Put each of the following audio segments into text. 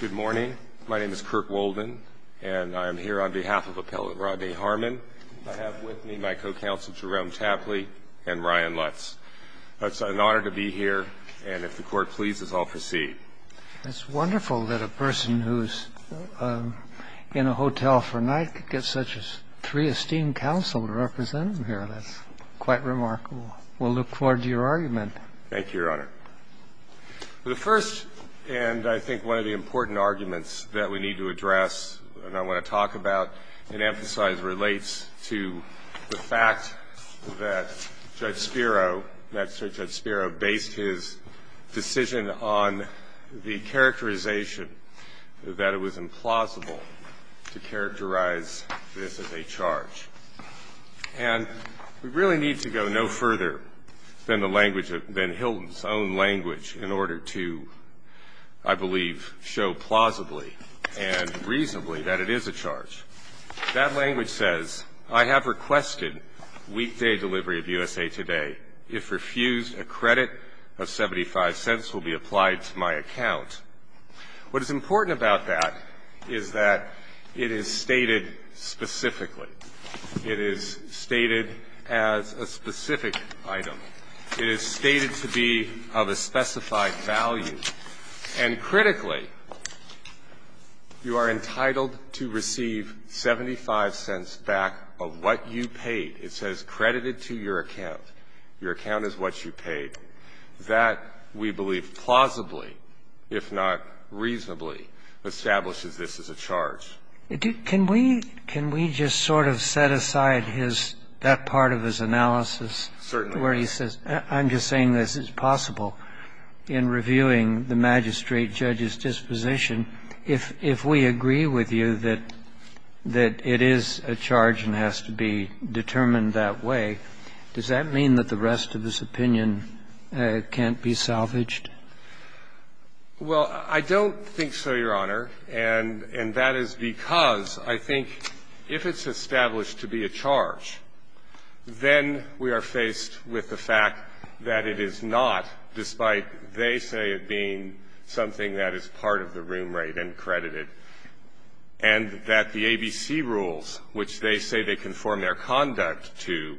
Good morning. My name is Kirk Wolden, and I am here on behalf of Appellate Rodney Harmon. I have with me my co-counsel Jerome Chapley and Ryan Lutz. It's an honor to be here, and if the Court pleases, I'll proceed. It's wonderful that a person who's in a hotel for a night could get such a three-esteemed counsel to represent him here. That's quite remarkable. We'll look forward to your argument. Thank you, Your Honor. The first and, I think, one of the important arguments that we need to address and I want to talk about and emphasize relates to the fact that Judge Spiro, Magistrate Judge Spiro, based his decision on the characterization that it was implausible to characterize this as a charge. And we really need to go no further than the language, than Hilton's own language, in order to, I believe, show plausibly and reasonably that it is a charge. That language says, I have requested weekday delivery of USA Today. If refused, a credit of 75 cents will be applied to my account. What is important about that is that it is stated specifically. It is stated as a specific item. It is stated to be of a specified value. And critically, you are entitled to receive 75 cents back of what you paid. It says credited to your account. Your account is what you paid. That, we believe, plausibly, if not reasonably, establishes this as a charge. Can we just sort of set aside his, that part of his analysis? Certainly. I'm just saying this is possible in reviewing the magistrate judge's disposition. If we agree with you that it is a charge and has to be determined that way, does that mean that the rest of his opinion can't be salvaged? Well, I don't think so, Your Honor. And that is because I think if it's established to be a charge, then we are faced with the fact that it is not, despite they say it being something that is part of the room rate and credited, and that the ABC rules, which they say they conform their conduct to,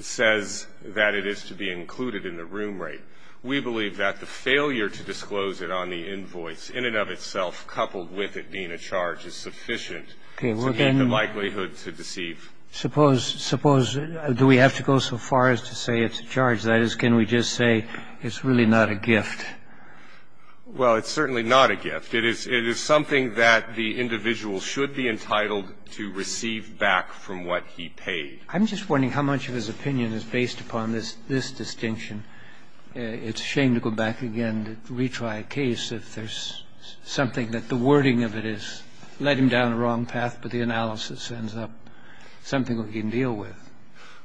says that it is to be included in the room rate. We believe that the failure to disclose it on the invoice, in and of itself, coupled with it being a charge, is sufficient to get the likelihood to deceive. Suppose, suppose, do we have to go so far as to say it's a charge? That is, can we just say it's really not a gift? Well, it's certainly not a gift. It is something that the individual should be entitled to receive back from what he paid. I'm just wondering how much of his opinion is based upon this distinction. It's a shame to go back again to retry a case if there's something that the wording of it is, led him down the wrong path, but the analysis ends up something we can deal with.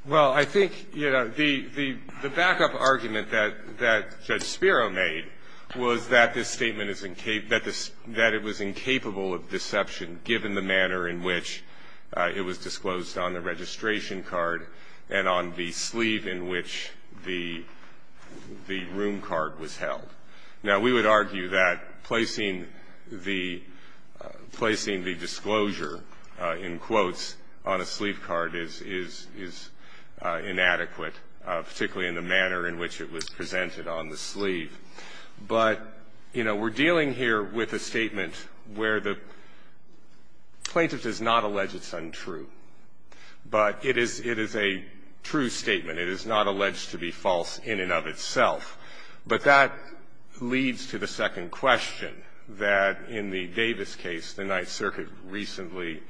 Well, I think, you know, the backup argument that Judge Spiro made was that this statement is incapable of deception given the manner in which it was disclosed on the registration card and on the sleeve in which the room card was held. Now, we would argue that placing the disclosure in quotes on a sleeve card is inadequate, particularly in the manner in which it was presented on the sleeve. But, you know, we're dealing here with a statement where the plaintiff does not allege it's untrue, but it is a true statement. It is not alleged to be false in and of itself. But that leads to the second question that in the Davis case the Ninth Circuit recently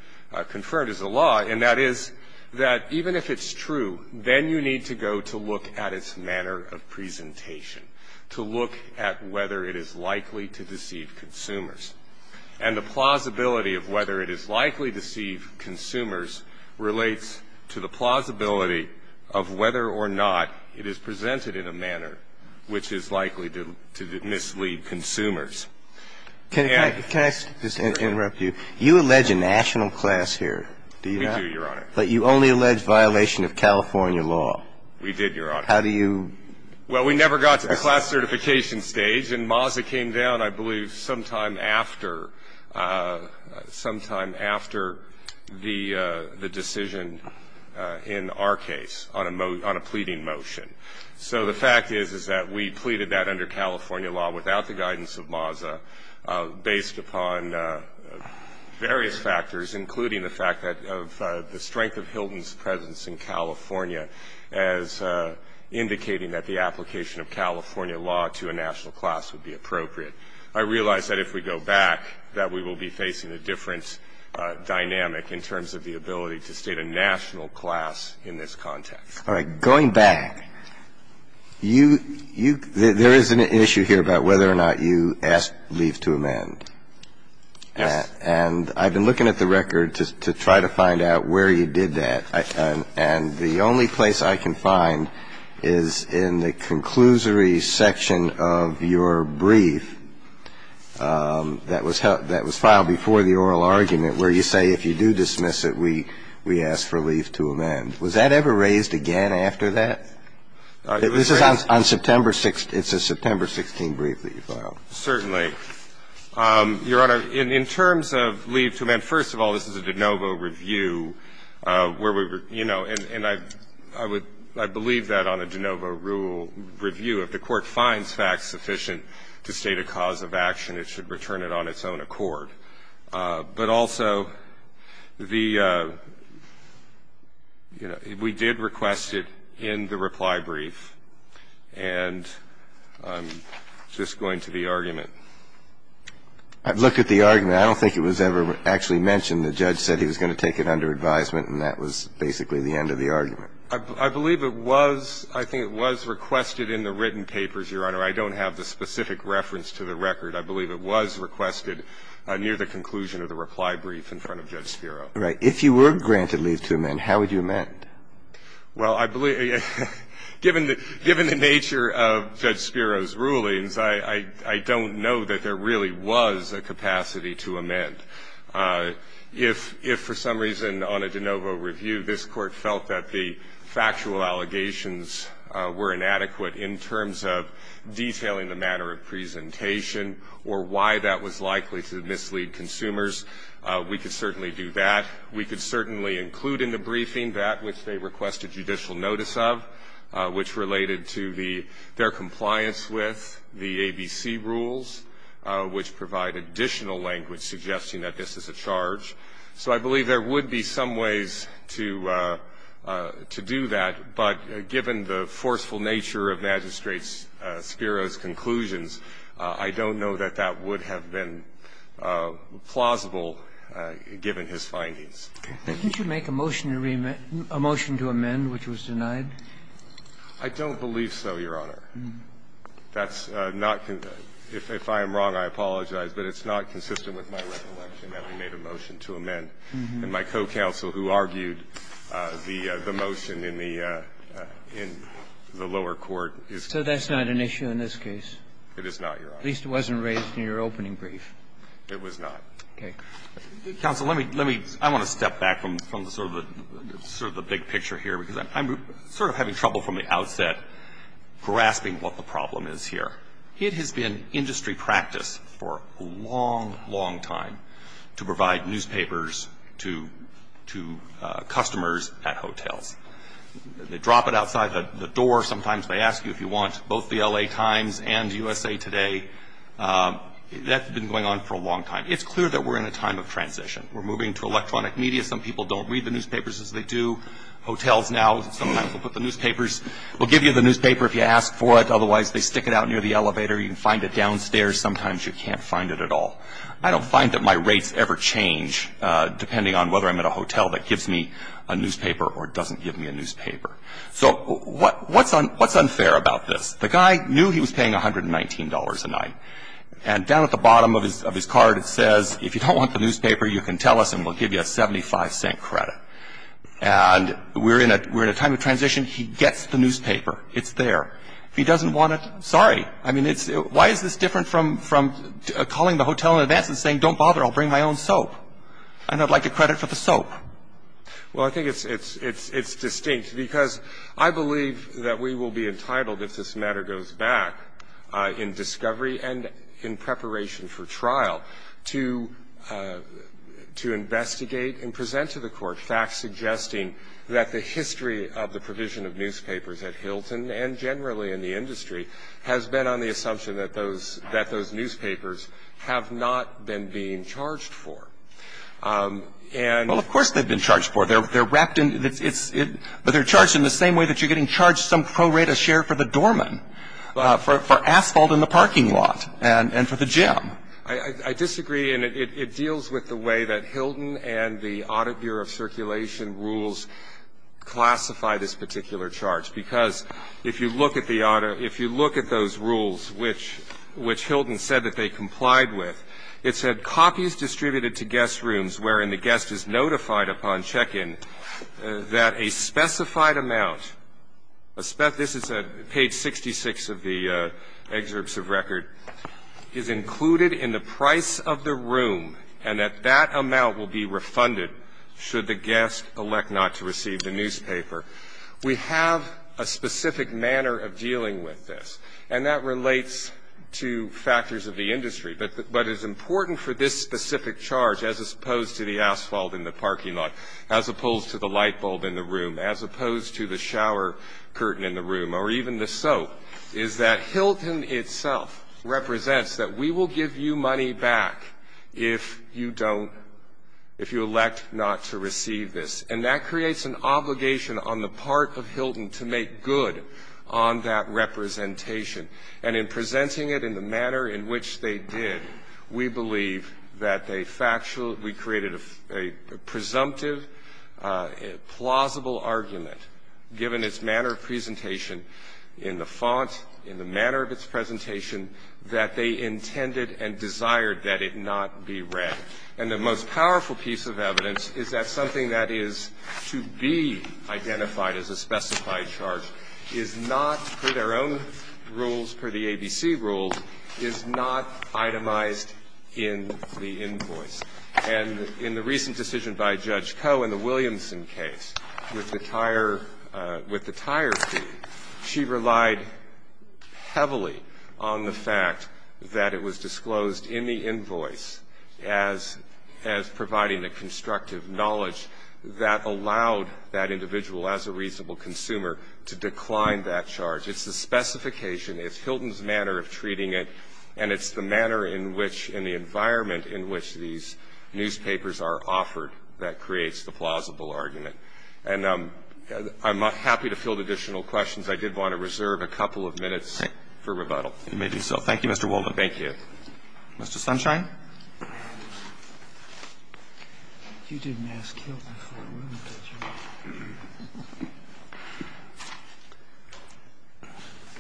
confirmed as a law, and that is that even if it's true, then you need to go to look at its manner of presentation, to look at whether it is likely to deceive consumers. And the plausibility of whether it is likely to deceive consumers relates to the plausibility of whether or not it is presented in a manner which is likely to mislead consumers. And the fact that it's not true in the case of the Ninth Circuit, it's not true in the case of the Ninth Circuit. So the fact is that under the California law, under the guidance of MASA, the Ninth Circuit did, Your Honor. How do you do that? Well, we never got to the class certification stage, and MASA came down, I believe, sometime after, sometime after the decision in our case on a pleading motion. So the fact is, is that we pleaded that under California law without the guidance of MASA, based upon various factors, including the fact of the strength of Hilton's presence in California as indicating that the application of California law to a national class would be appropriate. I realize that if we go back, that we will be facing a different dynamic in terms of the ability to state a national class in this context. All right. Going back, you – you – there is an issue here about whether or not you asked leave to amend. Yes. And I've been looking at the record to try to find out where you did that. And the only place I can find is in the conclusory section of your brief that was filed before the oral argument, where you say if you do dismiss it, we ask for leave to amend. Was that ever raised again after that? This is on September 6th. It's a September 16th brief that you filed. Certainly. Your Honor, in terms of leave to amend, first of all, this is a de novo review where we were, you know, and I would – I believe that on a de novo rule review, if the Court finds facts sufficient to state a cause of action, it should return it on its own accord. But also, the – you know, we did request it in the reply brief, and I'm just going to the argument. I've looked at the argument. I don't think it was ever actually mentioned. The judge said he was going to take it under advisement, and that was basically the end of the argument. I believe it was – I think it was requested in the written papers, Your Honor. I don't have the specific reference to the record. I believe it was requested near the conclusion of the reply brief in front of Judge Spiro. Right. If you were granted leave to amend, how would you amend? Well, I believe – given the nature of Judge Spiro's rulings, I don't know that there really was a capacity to amend. If for some reason on a de novo review this Court felt that the factual allegations were inadequate in terms of detailing the manner of presentation or why that was likely to mislead consumers, we could certainly do that. We could certainly include in the briefing that which they requested judicial notice of, which related to the – their compliance with the ABC rules, which provide additional language suggesting that this is a charge. So I believe there would be some ways to do that, but given the forceful nature of Magistrate Spiro's conclusions, I don't know that that would have been plausible given his findings. Did you make a motion to amend which was denied? I don't believe so, Your Honor. That's not – if I am wrong, I apologize, but it's not consistent with my recollection that we made a motion to amend. And my co-counsel, who argued the motion in the lower court, is correct. So that's not an issue in this case? It is not, Your Honor. At least it wasn't raised in your opening brief. It was not. Okay. Counsel, let me – I want to step back from sort of the big picture here, because I'm sort of having trouble from the outset grasping what the problem is here. It has been industry practice for a long, long time to provide newspapers to customers at hotels. They drop it outside the door. Sometimes they ask you if you want both the L.A. Times and USA Today. That's been going on for a long time. It's clear that we're in a time of transition. We're moving to electronic media. Some people don't read the newspapers as they do hotels now. Sometimes we'll put the newspapers – we'll give you the newspaper if you ask for it. You can find it in the elevator. You can find it downstairs. Sometimes you can't find it at all. I don't find that my rates ever change, depending on whether I'm at a hotel that gives me a newspaper or doesn't give me a newspaper. So what's unfair about this? The guy knew he was paying $119 a night. And down at the bottom of his card, it says, if you don't want the newspaper, you can tell us and we'll give you a 75-cent credit. And we're in a time of transition. He gets the newspaper. It's there. If he doesn't want it, sorry. I mean, it's – why is this different from calling the hotel in advance and saying, don't bother, I'll bring my own soap, and I'd like a credit for the soap? Well, I think it's distinct, because I believe that we will be entitled, if this matter goes back in discovery and in preparation for trial, to investigate and present to the Court facts suggesting that the history of the provision of newspapers at Hilton, and generally in the industry, has been on the assumption that those newspapers have not been being charged for. And – Well, of course they've been charged for. They're wrapped in – it's – but they're charged in the same way that you're getting charged some pro rata share for the doorman, for asphalt in the parking lot, and for the gym. I disagree. And it deals with the way that Hilton and the Audit Bureau of Circulation rules classify this particular charge. Because if you look at the – if you look at those rules which Hilton said that they complied with, it said, copies distributed to guest rooms wherein the guest is notified upon check-in that a specified amount – this is at page 66 of the excerpts of record – is included in the price of the room, and that that amount will be refunded should the guest elect not to receive the newspaper. We have a specific manner of dealing with this. And that relates to factors of the industry. But it's important for this specific charge, as opposed to the asphalt in the parking lot, as opposed to the light bulb in the room, as opposed to the shower curtain in the room, or even the soap, is that Hilton itself represents that we will give you money back if you don't if you elect not to receive this. And that creates an obligation on the part of Hilton to make good on that representation. And in presenting it in the manner in which they did, we believe that they factually – we created a presumptive, plausible argument, given its manner of presentation in the font, in the manner of its presentation, that they intended and desired that it not be read. And the most powerful piece of evidence is that something that is to be identified as a specified charge is not, per their own rules, per the ABC rules, is not itemized in the invoice. And in the recent decision by Judge Koh in the Williamson case, with the tire fee, she relied heavily on the fact that it was disclosed in the invoice as providing the constructive knowledge that allowed that individual, as a reasonable consumer, to decline that charge. It's the specification, it's Hilton's manner of treating it, and it's the manner in which – in the environment in which these newspapers are offered that creates the plausible argument. And I'm happy to field additional questions. I did want to reserve a couple of minutes for rebuttal. You may do so. Thank you, Mr. Walden. Thank you. Mr. Sunshine? You didn't ask Hilton for a room, did you?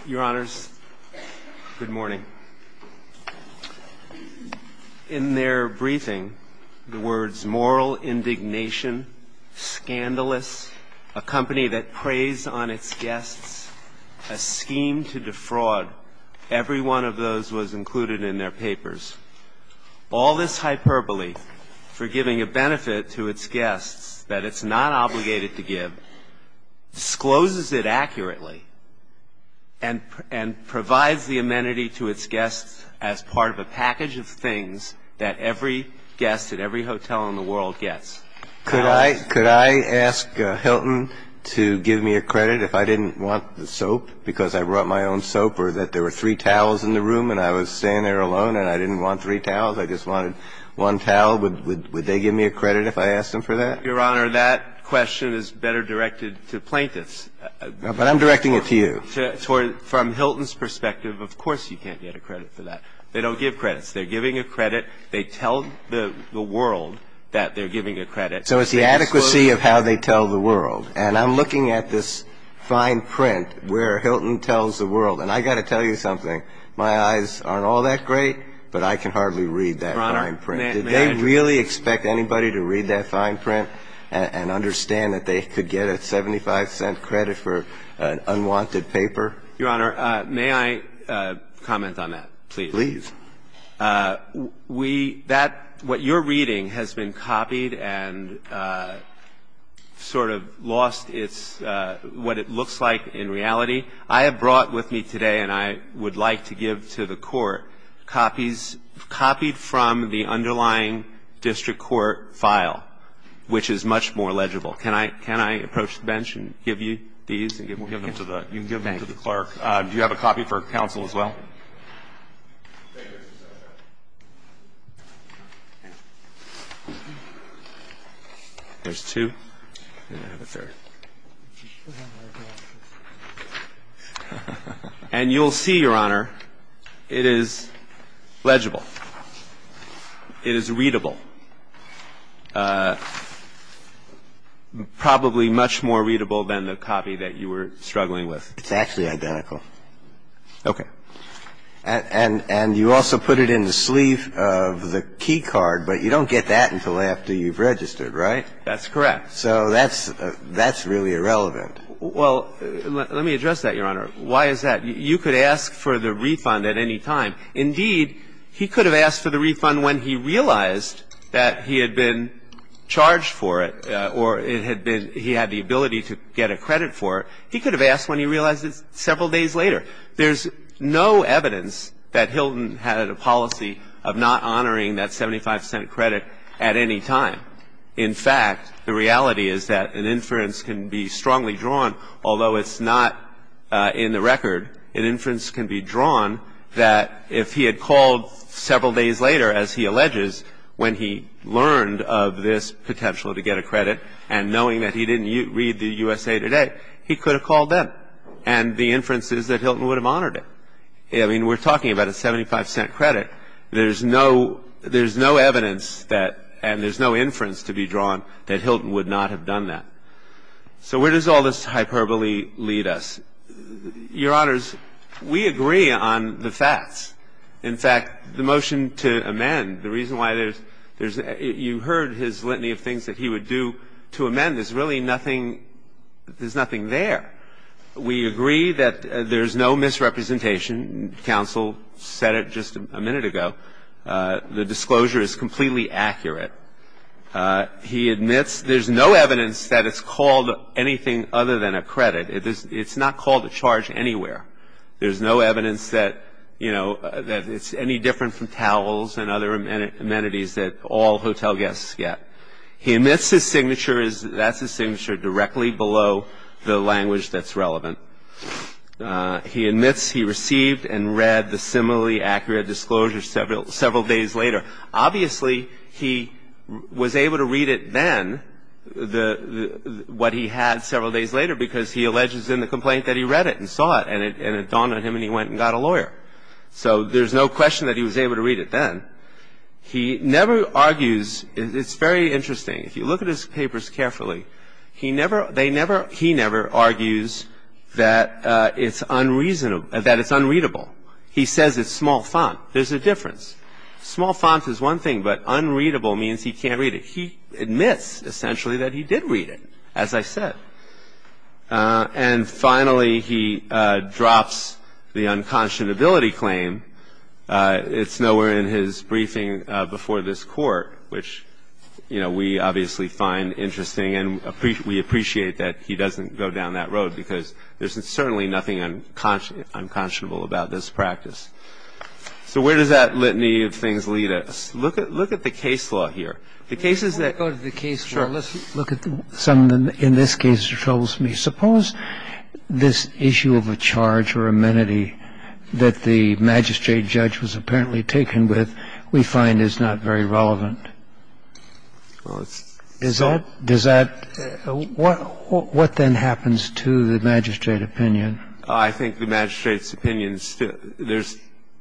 Your Honors, good morning. In their briefing, the words, moral indignation, scandalous, a company that preys on its guests, a scheme to defraud, every one of those was included in their papers. All this hyperbole for giving a benefit to its guests that it's not obligated to give discloses it accurately and provides the amenity to its guests as part of a package of things that every guest at every hotel in the world gets. Could I ask Hilton to give me a credit if I didn't want the soap because I brought my own soap or that there were three towels in the room and I was staying there alone and I didn't want three towels, I just wanted one towel, would they give me a credit if I asked them for that? Your Honor, that question is better directed to plaintiffs. But I'm directing it to you. From Hilton's perspective, of course you can't get a credit for that. They don't give credits. They're giving a credit. They tell the world that they're giving a credit. So it's the adequacy of how they tell the world. And I'm looking at this fine print where Hilton tells the world. And I got to tell you something. My eyes aren't all that great, but I can hardly read that fine print. Did they really expect anybody to read that fine print and understand that they could get a 75-cent credit for an unwanted paper? Your Honor, may I comment on that, please? Please. We – that – what you're reading has been copied and sort of lost its – what it looks like in reality. I have brought with me today, and I would like to give to the Court, copies copied from the underlying district court file, which is much more legible. Can I approach the bench and give you these? You can give them to the clerk. Do you have a copy for counsel as well? There's two. And I have a third. And you'll see, Your Honor, it is legible. It is readable. Probably much more readable than the copy that you were struggling with. It's actually identical. Okay. And you also put it in the sleeve of the key card, but you don't get that until after you've registered, right? That's correct. So that's – that's really irrelevant. Well, let me address that, Your Honor. Why is that? You could ask for the refund at any time. Indeed, he could have asked for the refund when he realized that he had been charged for it or it had been – he had the ability to get a credit for it. He could have asked when he realized it several days later. There's no evidence that Hilton had a policy of not honoring that 75-cent credit at any time. In fact, the reality is that an inference can be strongly drawn, although it's not in the record. An inference can be drawn that if he had called several days later, as he alleges, when he learned of this potential to get a credit and knowing that he didn't read the USA Today, he could have called then. And the inference is that Hilton would have honored it. I mean, we're talking about a 75-cent credit. There's no – there's no evidence that – and there's no inference to be drawn that Hilton would not have done that. So where does all this hyperbole lead us? Your Honors, we agree on the facts. In fact, the motion to amend, the reason why there's – you heard his litany of things that he would do to amend. There's really nothing – there's nothing there. We agree that there's no misrepresentation. Counsel said it just a minute ago. The disclosure is completely accurate. He admits there's no evidence that it's called anything other than a credit. It's not called a charge anywhere. There's no evidence that, you know, that it's any different from towels and other amenities that all hotel guests get. He admits his signature is – that's his signature directly below the language that's relevant. He admits he received and read the similarly accurate disclosure several days later. Obviously, he was able to read it then, what he had several days later, because he alleges in the complaint that he read it and saw it, and it dawned on him and he went and got a lawyer. So there's no question that he was able to read it then. He never argues – it's very interesting. If you look at his papers carefully, he never – they never – he never argues that it's unreasonable – that it's unreadable. He says it's small font. There's a difference. Small font is one thing, but unreadable means he can't read it. He admits, essentially, that he did read it, as I said. And finally, he drops the unconscionability claim. It's nowhere in his briefing before this Court, which, you know, we obviously find interesting and we appreciate that he doesn't go down that road because there's certainly nothing unconscionable about this practice. So where does that litany of things lead us? Look at the case law here. The cases that – Let me go to the case law. Sure. Let's look at some of the – in this case, it troubles me. Suppose this issue of a charge or amenity that the magistrate judge was apparently taken with we find is not very relevant. Does that – what then happens to the magistrate opinion? I think the magistrate's opinion – there's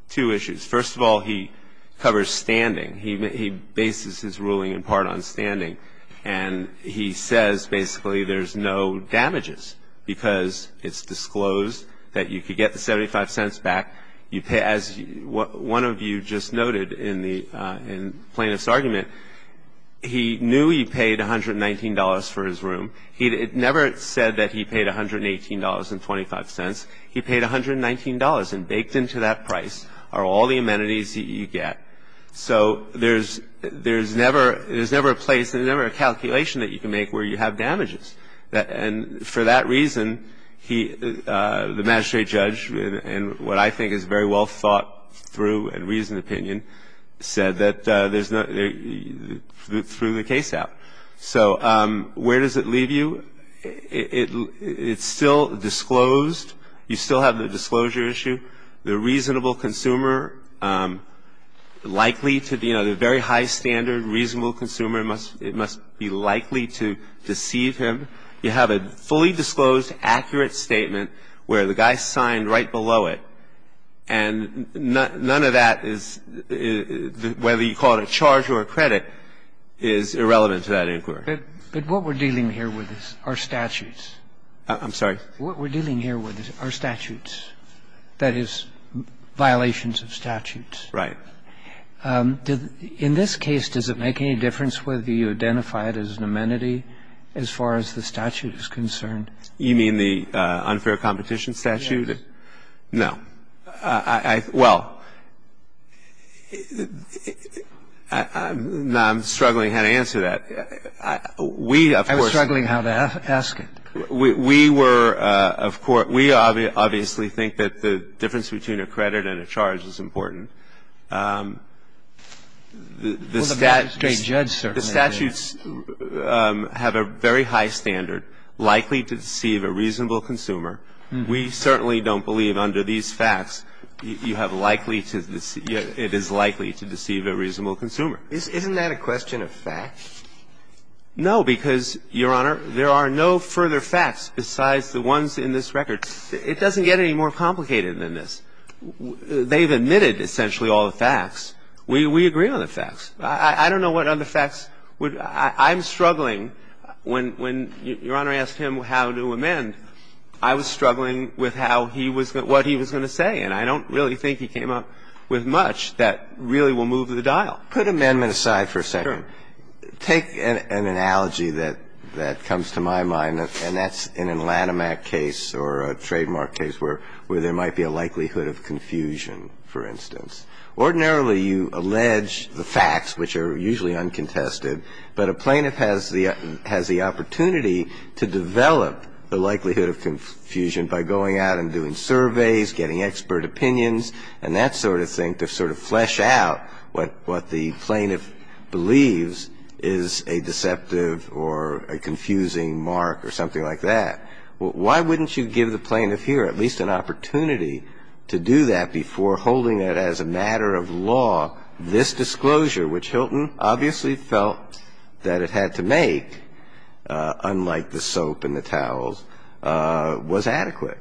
two issues. First of all, he covers standing. He bases his ruling in part on standing. And he says, basically, there's no damages because it's disclosed that you could get the 75 cents back. As one of you just noted in the plaintiff's argument, he knew he paid $119 for his room. It never said that he paid $118.25. He paid $119 and baked into that price are all the amenities that you get. So there's never – there's never a place, there's never a calculation that you can make where you have damages. And for that reason, he – the magistrate judge, in what I think is very well thought through and reasoned opinion, said that there's no – threw the case out. So where does it leave you? It's still disclosed. You still have the disclosure issue. The reasonable consumer likely to be – you know, the very high standard reasonable consumer, it must be likely to deceive him. You have a fully disclosed, accurate statement where the guy signed right below it. And none of that is – whether you call it a charge or a credit, is irrelevant to that inquiry. But what we're dealing here with is our statutes. I'm sorry? What we're dealing here with are statutes. That is, violations of statutes. Right. In this case, does it make any difference whether you identify it as an amenity as far as the statute is concerned? You mean the unfair competition statute? Yes. No. I – well, I'm struggling how to answer that. We, of course – I'm struggling how to ask it. We were, of course – we obviously think that the difference between a credit and a charge is important. The statute – Well, the judge certainly did. The statutes have a very high standard, likely to deceive a reasonable consumer. We certainly don't believe under these facts you have likely to – it is likely to deceive a reasonable consumer. Isn't that a question of facts? No, because, Your Honor, there are no further facts besides the ones in this record. It doesn't get any more complicated than this. They've admitted essentially all the facts. We agree on the facts. I don't know what other facts would – I'm struggling. When Your Honor asked him how to amend, I was struggling with how he was – what he was going to say. And I don't really think he came up with much that really will move the dial. Put amendment aside for a second. Sure. Take an analogy that comes to my mind, and that's in a Lanham Act case or a trademark case where there might be a likelihood of confusion, for instance. Ordinarily, you allege the facts, which are usually uncontested, but a plaintiff has the opportunity to develop the likelihood of confusion by going out and doing surveys, getting expert opinions, and that sort of thing, to sort of flesh out what the plaintiff believes is a deceptive or a confusing mark or something like that. Why wouldn't you give the plaintiff here at least an opportunity to do that before holding it as a matter of law this disclosure, which Hilton obviously felt that it had to make, unlike the soap and the towels, was adequate?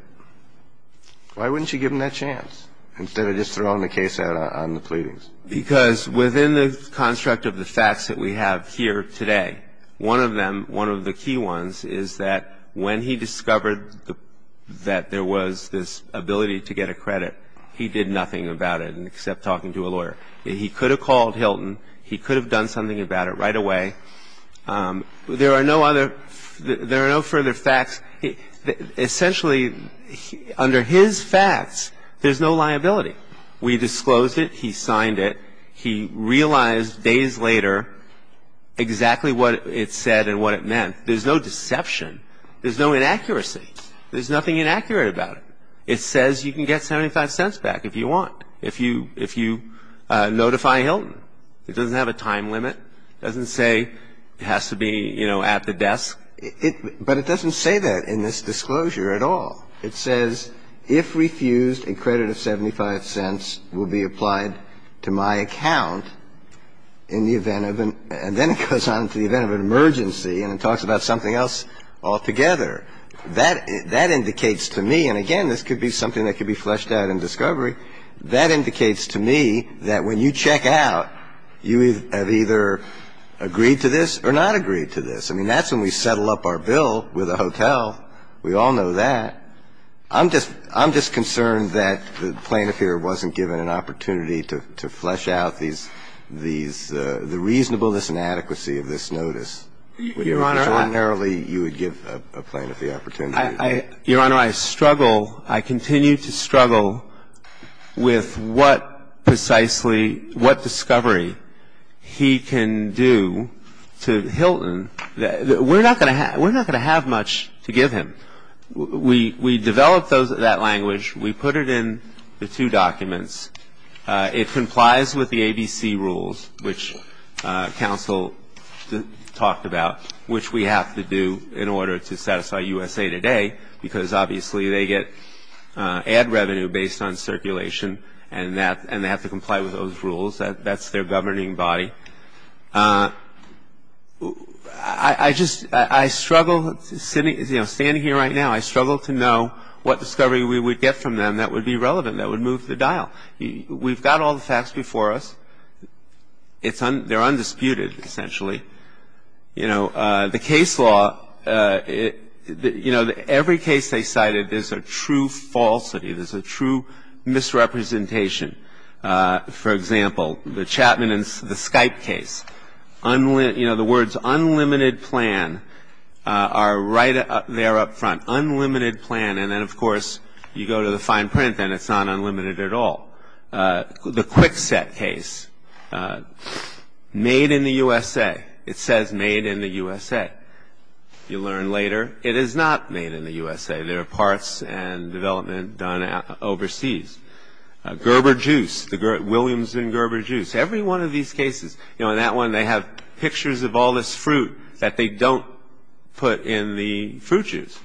Why wouldn't you give him that chance? Instead of just throwing the case out on the pleadings. Because within the construct of the facts that we have here today, one of them, one of the key ones, is that when he discovered that there was this ability to get a credit, he did nothing about it except talking to a lawyer. He could have called Hilton. He could have done something about it right away. There are no further facts. Essentially, under his facts, there's no liability. We disclosed it. He signed it. He realized days later exactly what it said and what it meant. There's no deception. There's no inaccuracy. There's nothing inaccurate about it. It says you can get 75 cents back if you want, if you notify Hilton. It doesn't have a time limit. It doesn't say it has to be, you know, at the desk. But it doesn't say that in this disclosure at all. It says if refused, a credit of 75 cents will be applied to my account in the event of an – and then it goes on to the event of an emergency and it talks about something else altogether. That indicates to me – and again, this could be something that could be fleshed out in discovery – that indicates to me that when you check out, you have either agreed to this or not agreed to this. I mean, that's when we settle up our bill with a hotel. We all know that. I'm just – I'm just concerned that the plaintiff here wasn't given an opportunity to flesh out these – the reasonableness and adequacy of this notice. If ordinarily you would give a plaintiff the opportunity. Your Honor, I struggle – I continue to struggle with what precisely – what discovery he can do to Hilton. We're not going to have – we're not going to have much to give him. We developed that language. We put it in the two documents. It complies with the ABC rules, which counsel talked about, which we have to do in order to satisfy USA Today because obviously they get ad revenue based on circulation and that – and they have to comply with those rules. That's their governing body. I just – I struggle – standing here right now, I struggle to know what discovery we would get from them that would be relevant, that would move the dial. We've got all the facts before us. It's – they're undisputed, essentially. You know, the case law – you know, every case they cited, there's a true falsity. There's a true misrepresentation. For example, the Chapman and – the Skype case, you know, the words unlimited plan are right there up front, unlimited plan. And then, of course, you go to the fine print and it's not unlimited at all. The Kwikset case, made in the USA. It says made in the USA. You learn later it is not made in the USA. There are parts and development done overseas. Gerber juice, the Williams and Gerber juice. Every one of these cases, you know, in that one they have pictures of all this fruit that they don't put in the fruit juice.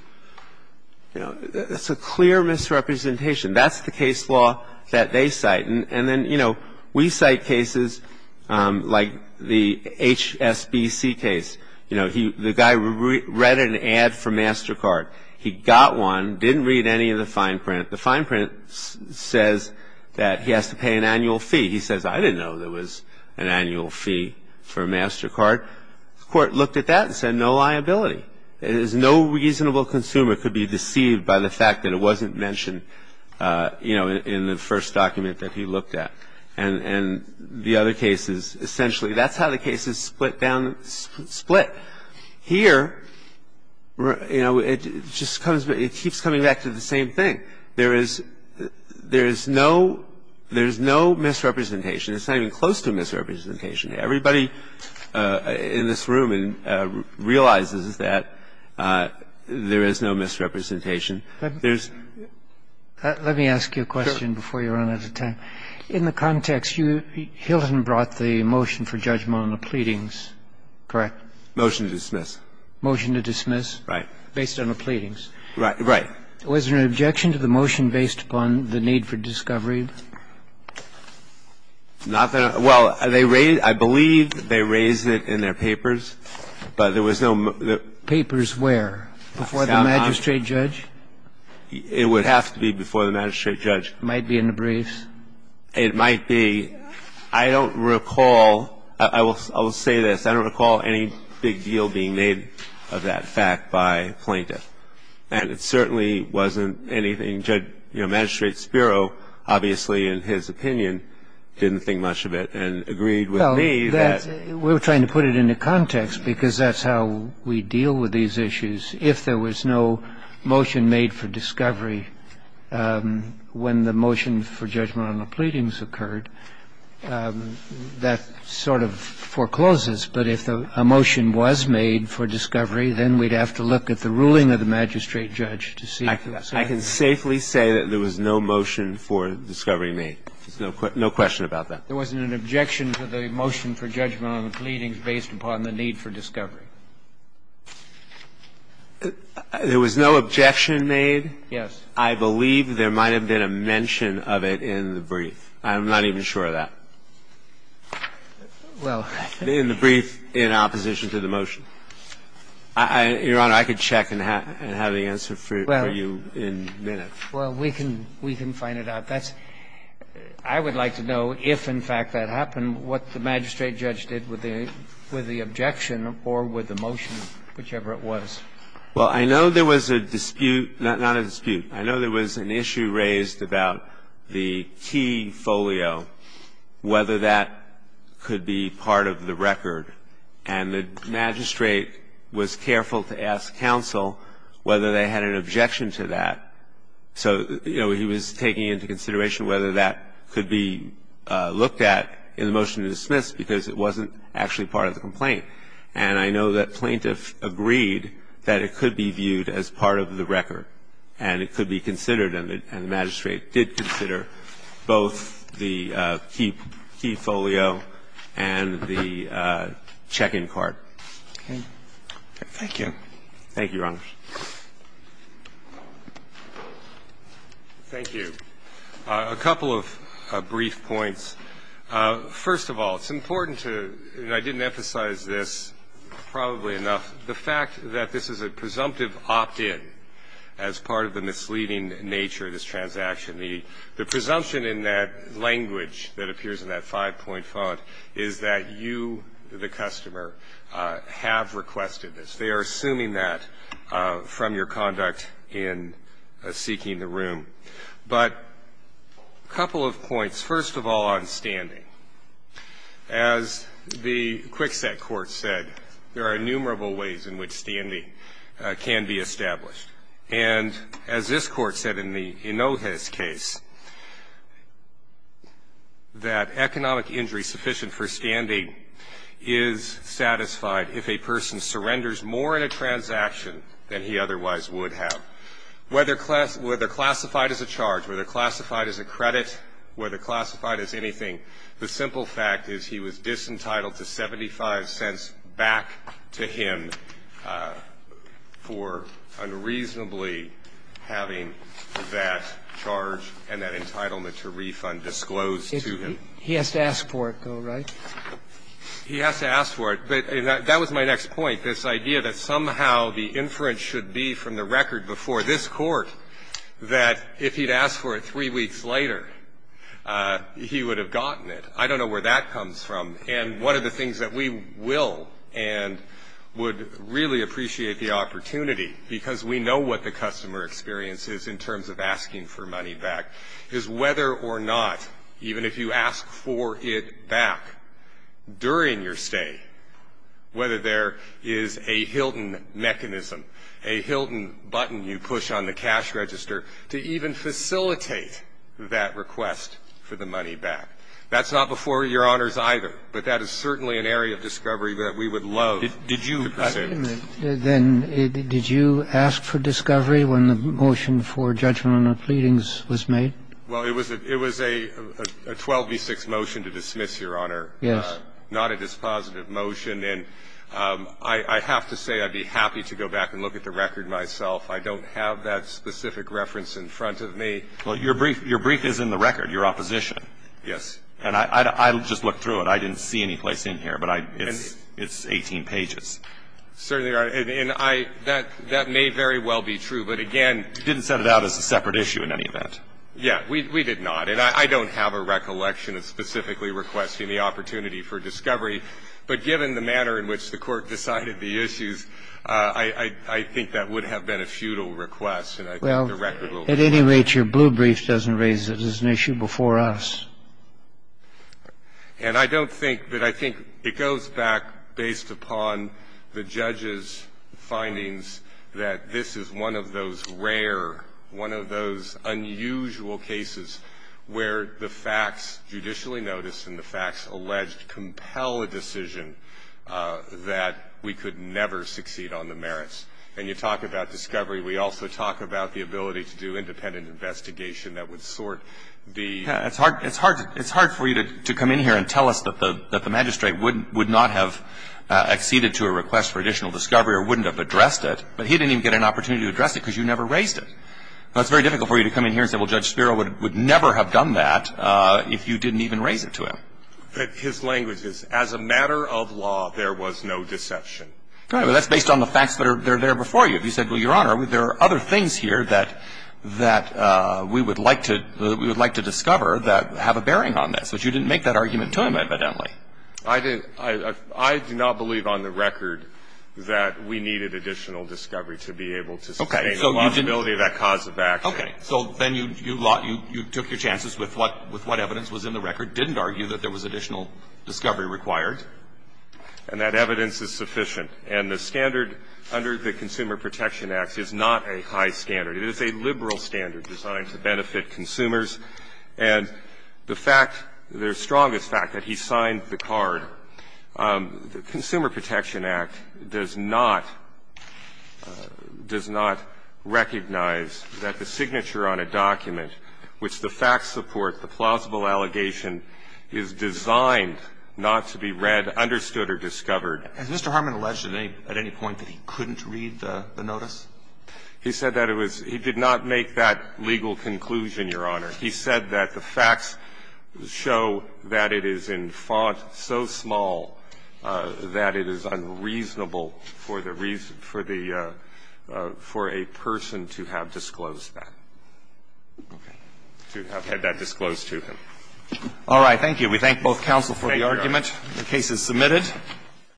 You know, it's a clear misrepresentation. That's the case law that they cite. And then, you know, we cite cases like the HSBC case. You know, the guy read an ad for MasterCard. He got one, didn't read any of the fine print. The fine print says that he has to pay an annual fee. He says, I didn't know there was an annual fee for MasterCard. The court looked at that and said no liability. It is no reasonable consumer could be deceived by the fact that it wasn't mentioned, you know, in the first document that he looked at. And the other cases, essentially, that's how the cases split down – split. But here, you know, it just comes – it keeps coming back to the same thing. There is – there is no – there is no misrepresentation. It's not even close to a misrepresentation. Everybody in this room realizes that there is no misrepresentation. Let me ask you a question before you run out of time. In the context, you – Hilton brought the motion for judgment on the pleadings, correct? Motion to dismiss. Motion to dismiss? Right. Based on the pleadings? Right. Was there an objection to the motion based upon the need for discovery? Not that – well, they raised – I believe they raised it in their papers, but there was no – Papers where? Before the magistrate judge? It would have to be before the magistrate judge. It might be in the briefs? It might be. I don't recall – I will say this. I don't recall any big deal being made of that fact by plaintiff. And it certainly wasn't anything Judge – you know, Magistrate Spiro, obviously, in his opinion, didn't think much of it and agreed with me that – Well, that's – we were trying to put it into context because that's how we deal with these issues. If there was no motion made for discovery when the motion for judgment on the pleadings occurred, that sort of forecloses. But if a motion was made for discovery, then we'd have to look at the ruling of the magistrate judge to see – I can safely say that there was no motion for discovery made. There's no question about that. There wasn't an objection to the motion for judgment on the pleadings based upon the need for discovery? There was no objection made? Yes. I believe there might have been a mention of it in the brief. I'm not even sure of that. Well – In the brief in opposition to the motion. Your Honor, I could check and have the answer for you in minutes. Well, we can find it out. That's – I would like to know if, in fact, that happened, what the magistrate judge did with the objection or with the motion, whichever it was. Well, I know there was a dispute – not a dispute. I know there was an issue raised about the key folio, whether that could be part of the record. And the magistrate was careful to ask counsel whether they had an objection to that. So, you know, he was taking into consideration whether that could be looked at in the motion to dismiss because it wasn't actually part of the complaint. And I know that plaintiff agreed that it could be viewed as part of the record and it could be considered and the magistrate did consider both the key folio and the check-in card. Okay. Thank you. Thank you, Your Honor. Thank you. A couple of brief points. First of all, it's important to – and I didn't emphasize this probably enough – the fact that this is a presumptive opt-in as part of the misleading nature of this transaction. The presumption in that language that appears in that five-point font is that you, the customer, have requested this. They are assuming that from your conduct in seeking the room. But a couple of points. First of all, on standing. As the Kwikset Court said, there are innumerable ways in which standing can be established. And as this Court said in the Hinojez case, that economic injury sufficient for standing is satisfied if a person surrenders more in a transaction than he otherwise would have. Now, whether classified as a charge, whether classified as a credit, whether classified as anything, the simple fact is he was disentitled to 75 cents back to him for unreasonably having that charge and that entitlement to refund disclosed to him. He has to ask for it, though, right? He has to ask for it. That was my next point, this idea that somehow the inference should be from the record before this Court that if he'd asked for it three weeks later, he would have gotten it. I don't know where that comes from. And one of the things that we will and would really appreciate the opportunity, because we know what the customer experience is in terms of asking for money back, is whether or not, even if you ask for it back during your stay, whether there is a Hilton mechanism, a Hilton button you push on the cash register to even facilitate that request for the money back. That's not before Your Honors either, but that is certainly an area of discovery that we would love to pursue. Do gentlemen have any---- Wait a minute then. Did you ask for discovery when the motion for judgment on the pleadings was made? Well, it was a 12 v. 6 motion to dismiss, You Honor? Yes. Not a dispositive motion, and I have to say I'd be happy to go back and look at the record myself. I don't have that specific reference in front of me. Well, your brief is in the record, your opposition. Yes. And I just looked through it. I didn't see any place in here, but it's 18 pages. Certainly, Your Honor, and I ---- that may very well be true, but again, you didn't set it out as a separate issue in any event. Yes. We did not, and I don't have a recollection of specifically requesting the opportunity for discovery, but given the manner in which the Court decided the issues, I think that would have been a futile request, and I think the record will ---- Well, at any rate, your blue brief doesn't raise it as an issue before us. And I don't think that I think it goes back based upon the judge's findings that this is one of those rare, one of those unusual cases where the facts judicially noticed and the facts alleged compel a decision that we could never succeed on the merits. And you talk about discovery. We also talk about the ability to do independent investigation that would sort the ---- Yes. It's hard for you to come in here and tell us that the magistrate would not have acceded to a request for additional discovery or wouldn't have addressed it, but he didn't even get an opportunity to address it because you never raised it. That's very difficult for you to come in here and say, well, Judge Spiro would never have done that if you didn't even raise it to him. But his language is, as a matter of law, there was no deception. Right. But that's based on the facts that are there before you. If you said, well, Your Honor, there are other things here that we would like to discover that have a bearing on this. But you didn't make that argument to him, evidently. I did. I do not believe on the record that we needed additional discovery to be able to sustain the possibility of that cause of action. Okay. So then you took your chances with what evidence was in the record, didn't argue that there was additional discovery required. And that evidence is sufficient. And the standard under the Consumer Protection Act is not a high standard. It is a liberal standard designed to benefit consumers. And the fact, the strongest fact, that he signed the card, the Consumer Protection Act, does not, does not recognize that the signature on a document, which the facts support the plausible allegation, is designed not to be read, understood or discovered. Has Mr. Harmon alleged at any point that he couldn't read the notice? He said that it was he did not make that legal conclusion, Your Honor. He said that the facts show that it is in font so small that it is unreasonable for the reason, for the, for a person to have disclosed that. Okay. To have had that disclosed to him. All right. Thank you. We thank both counsel for the argument. The case is submitted.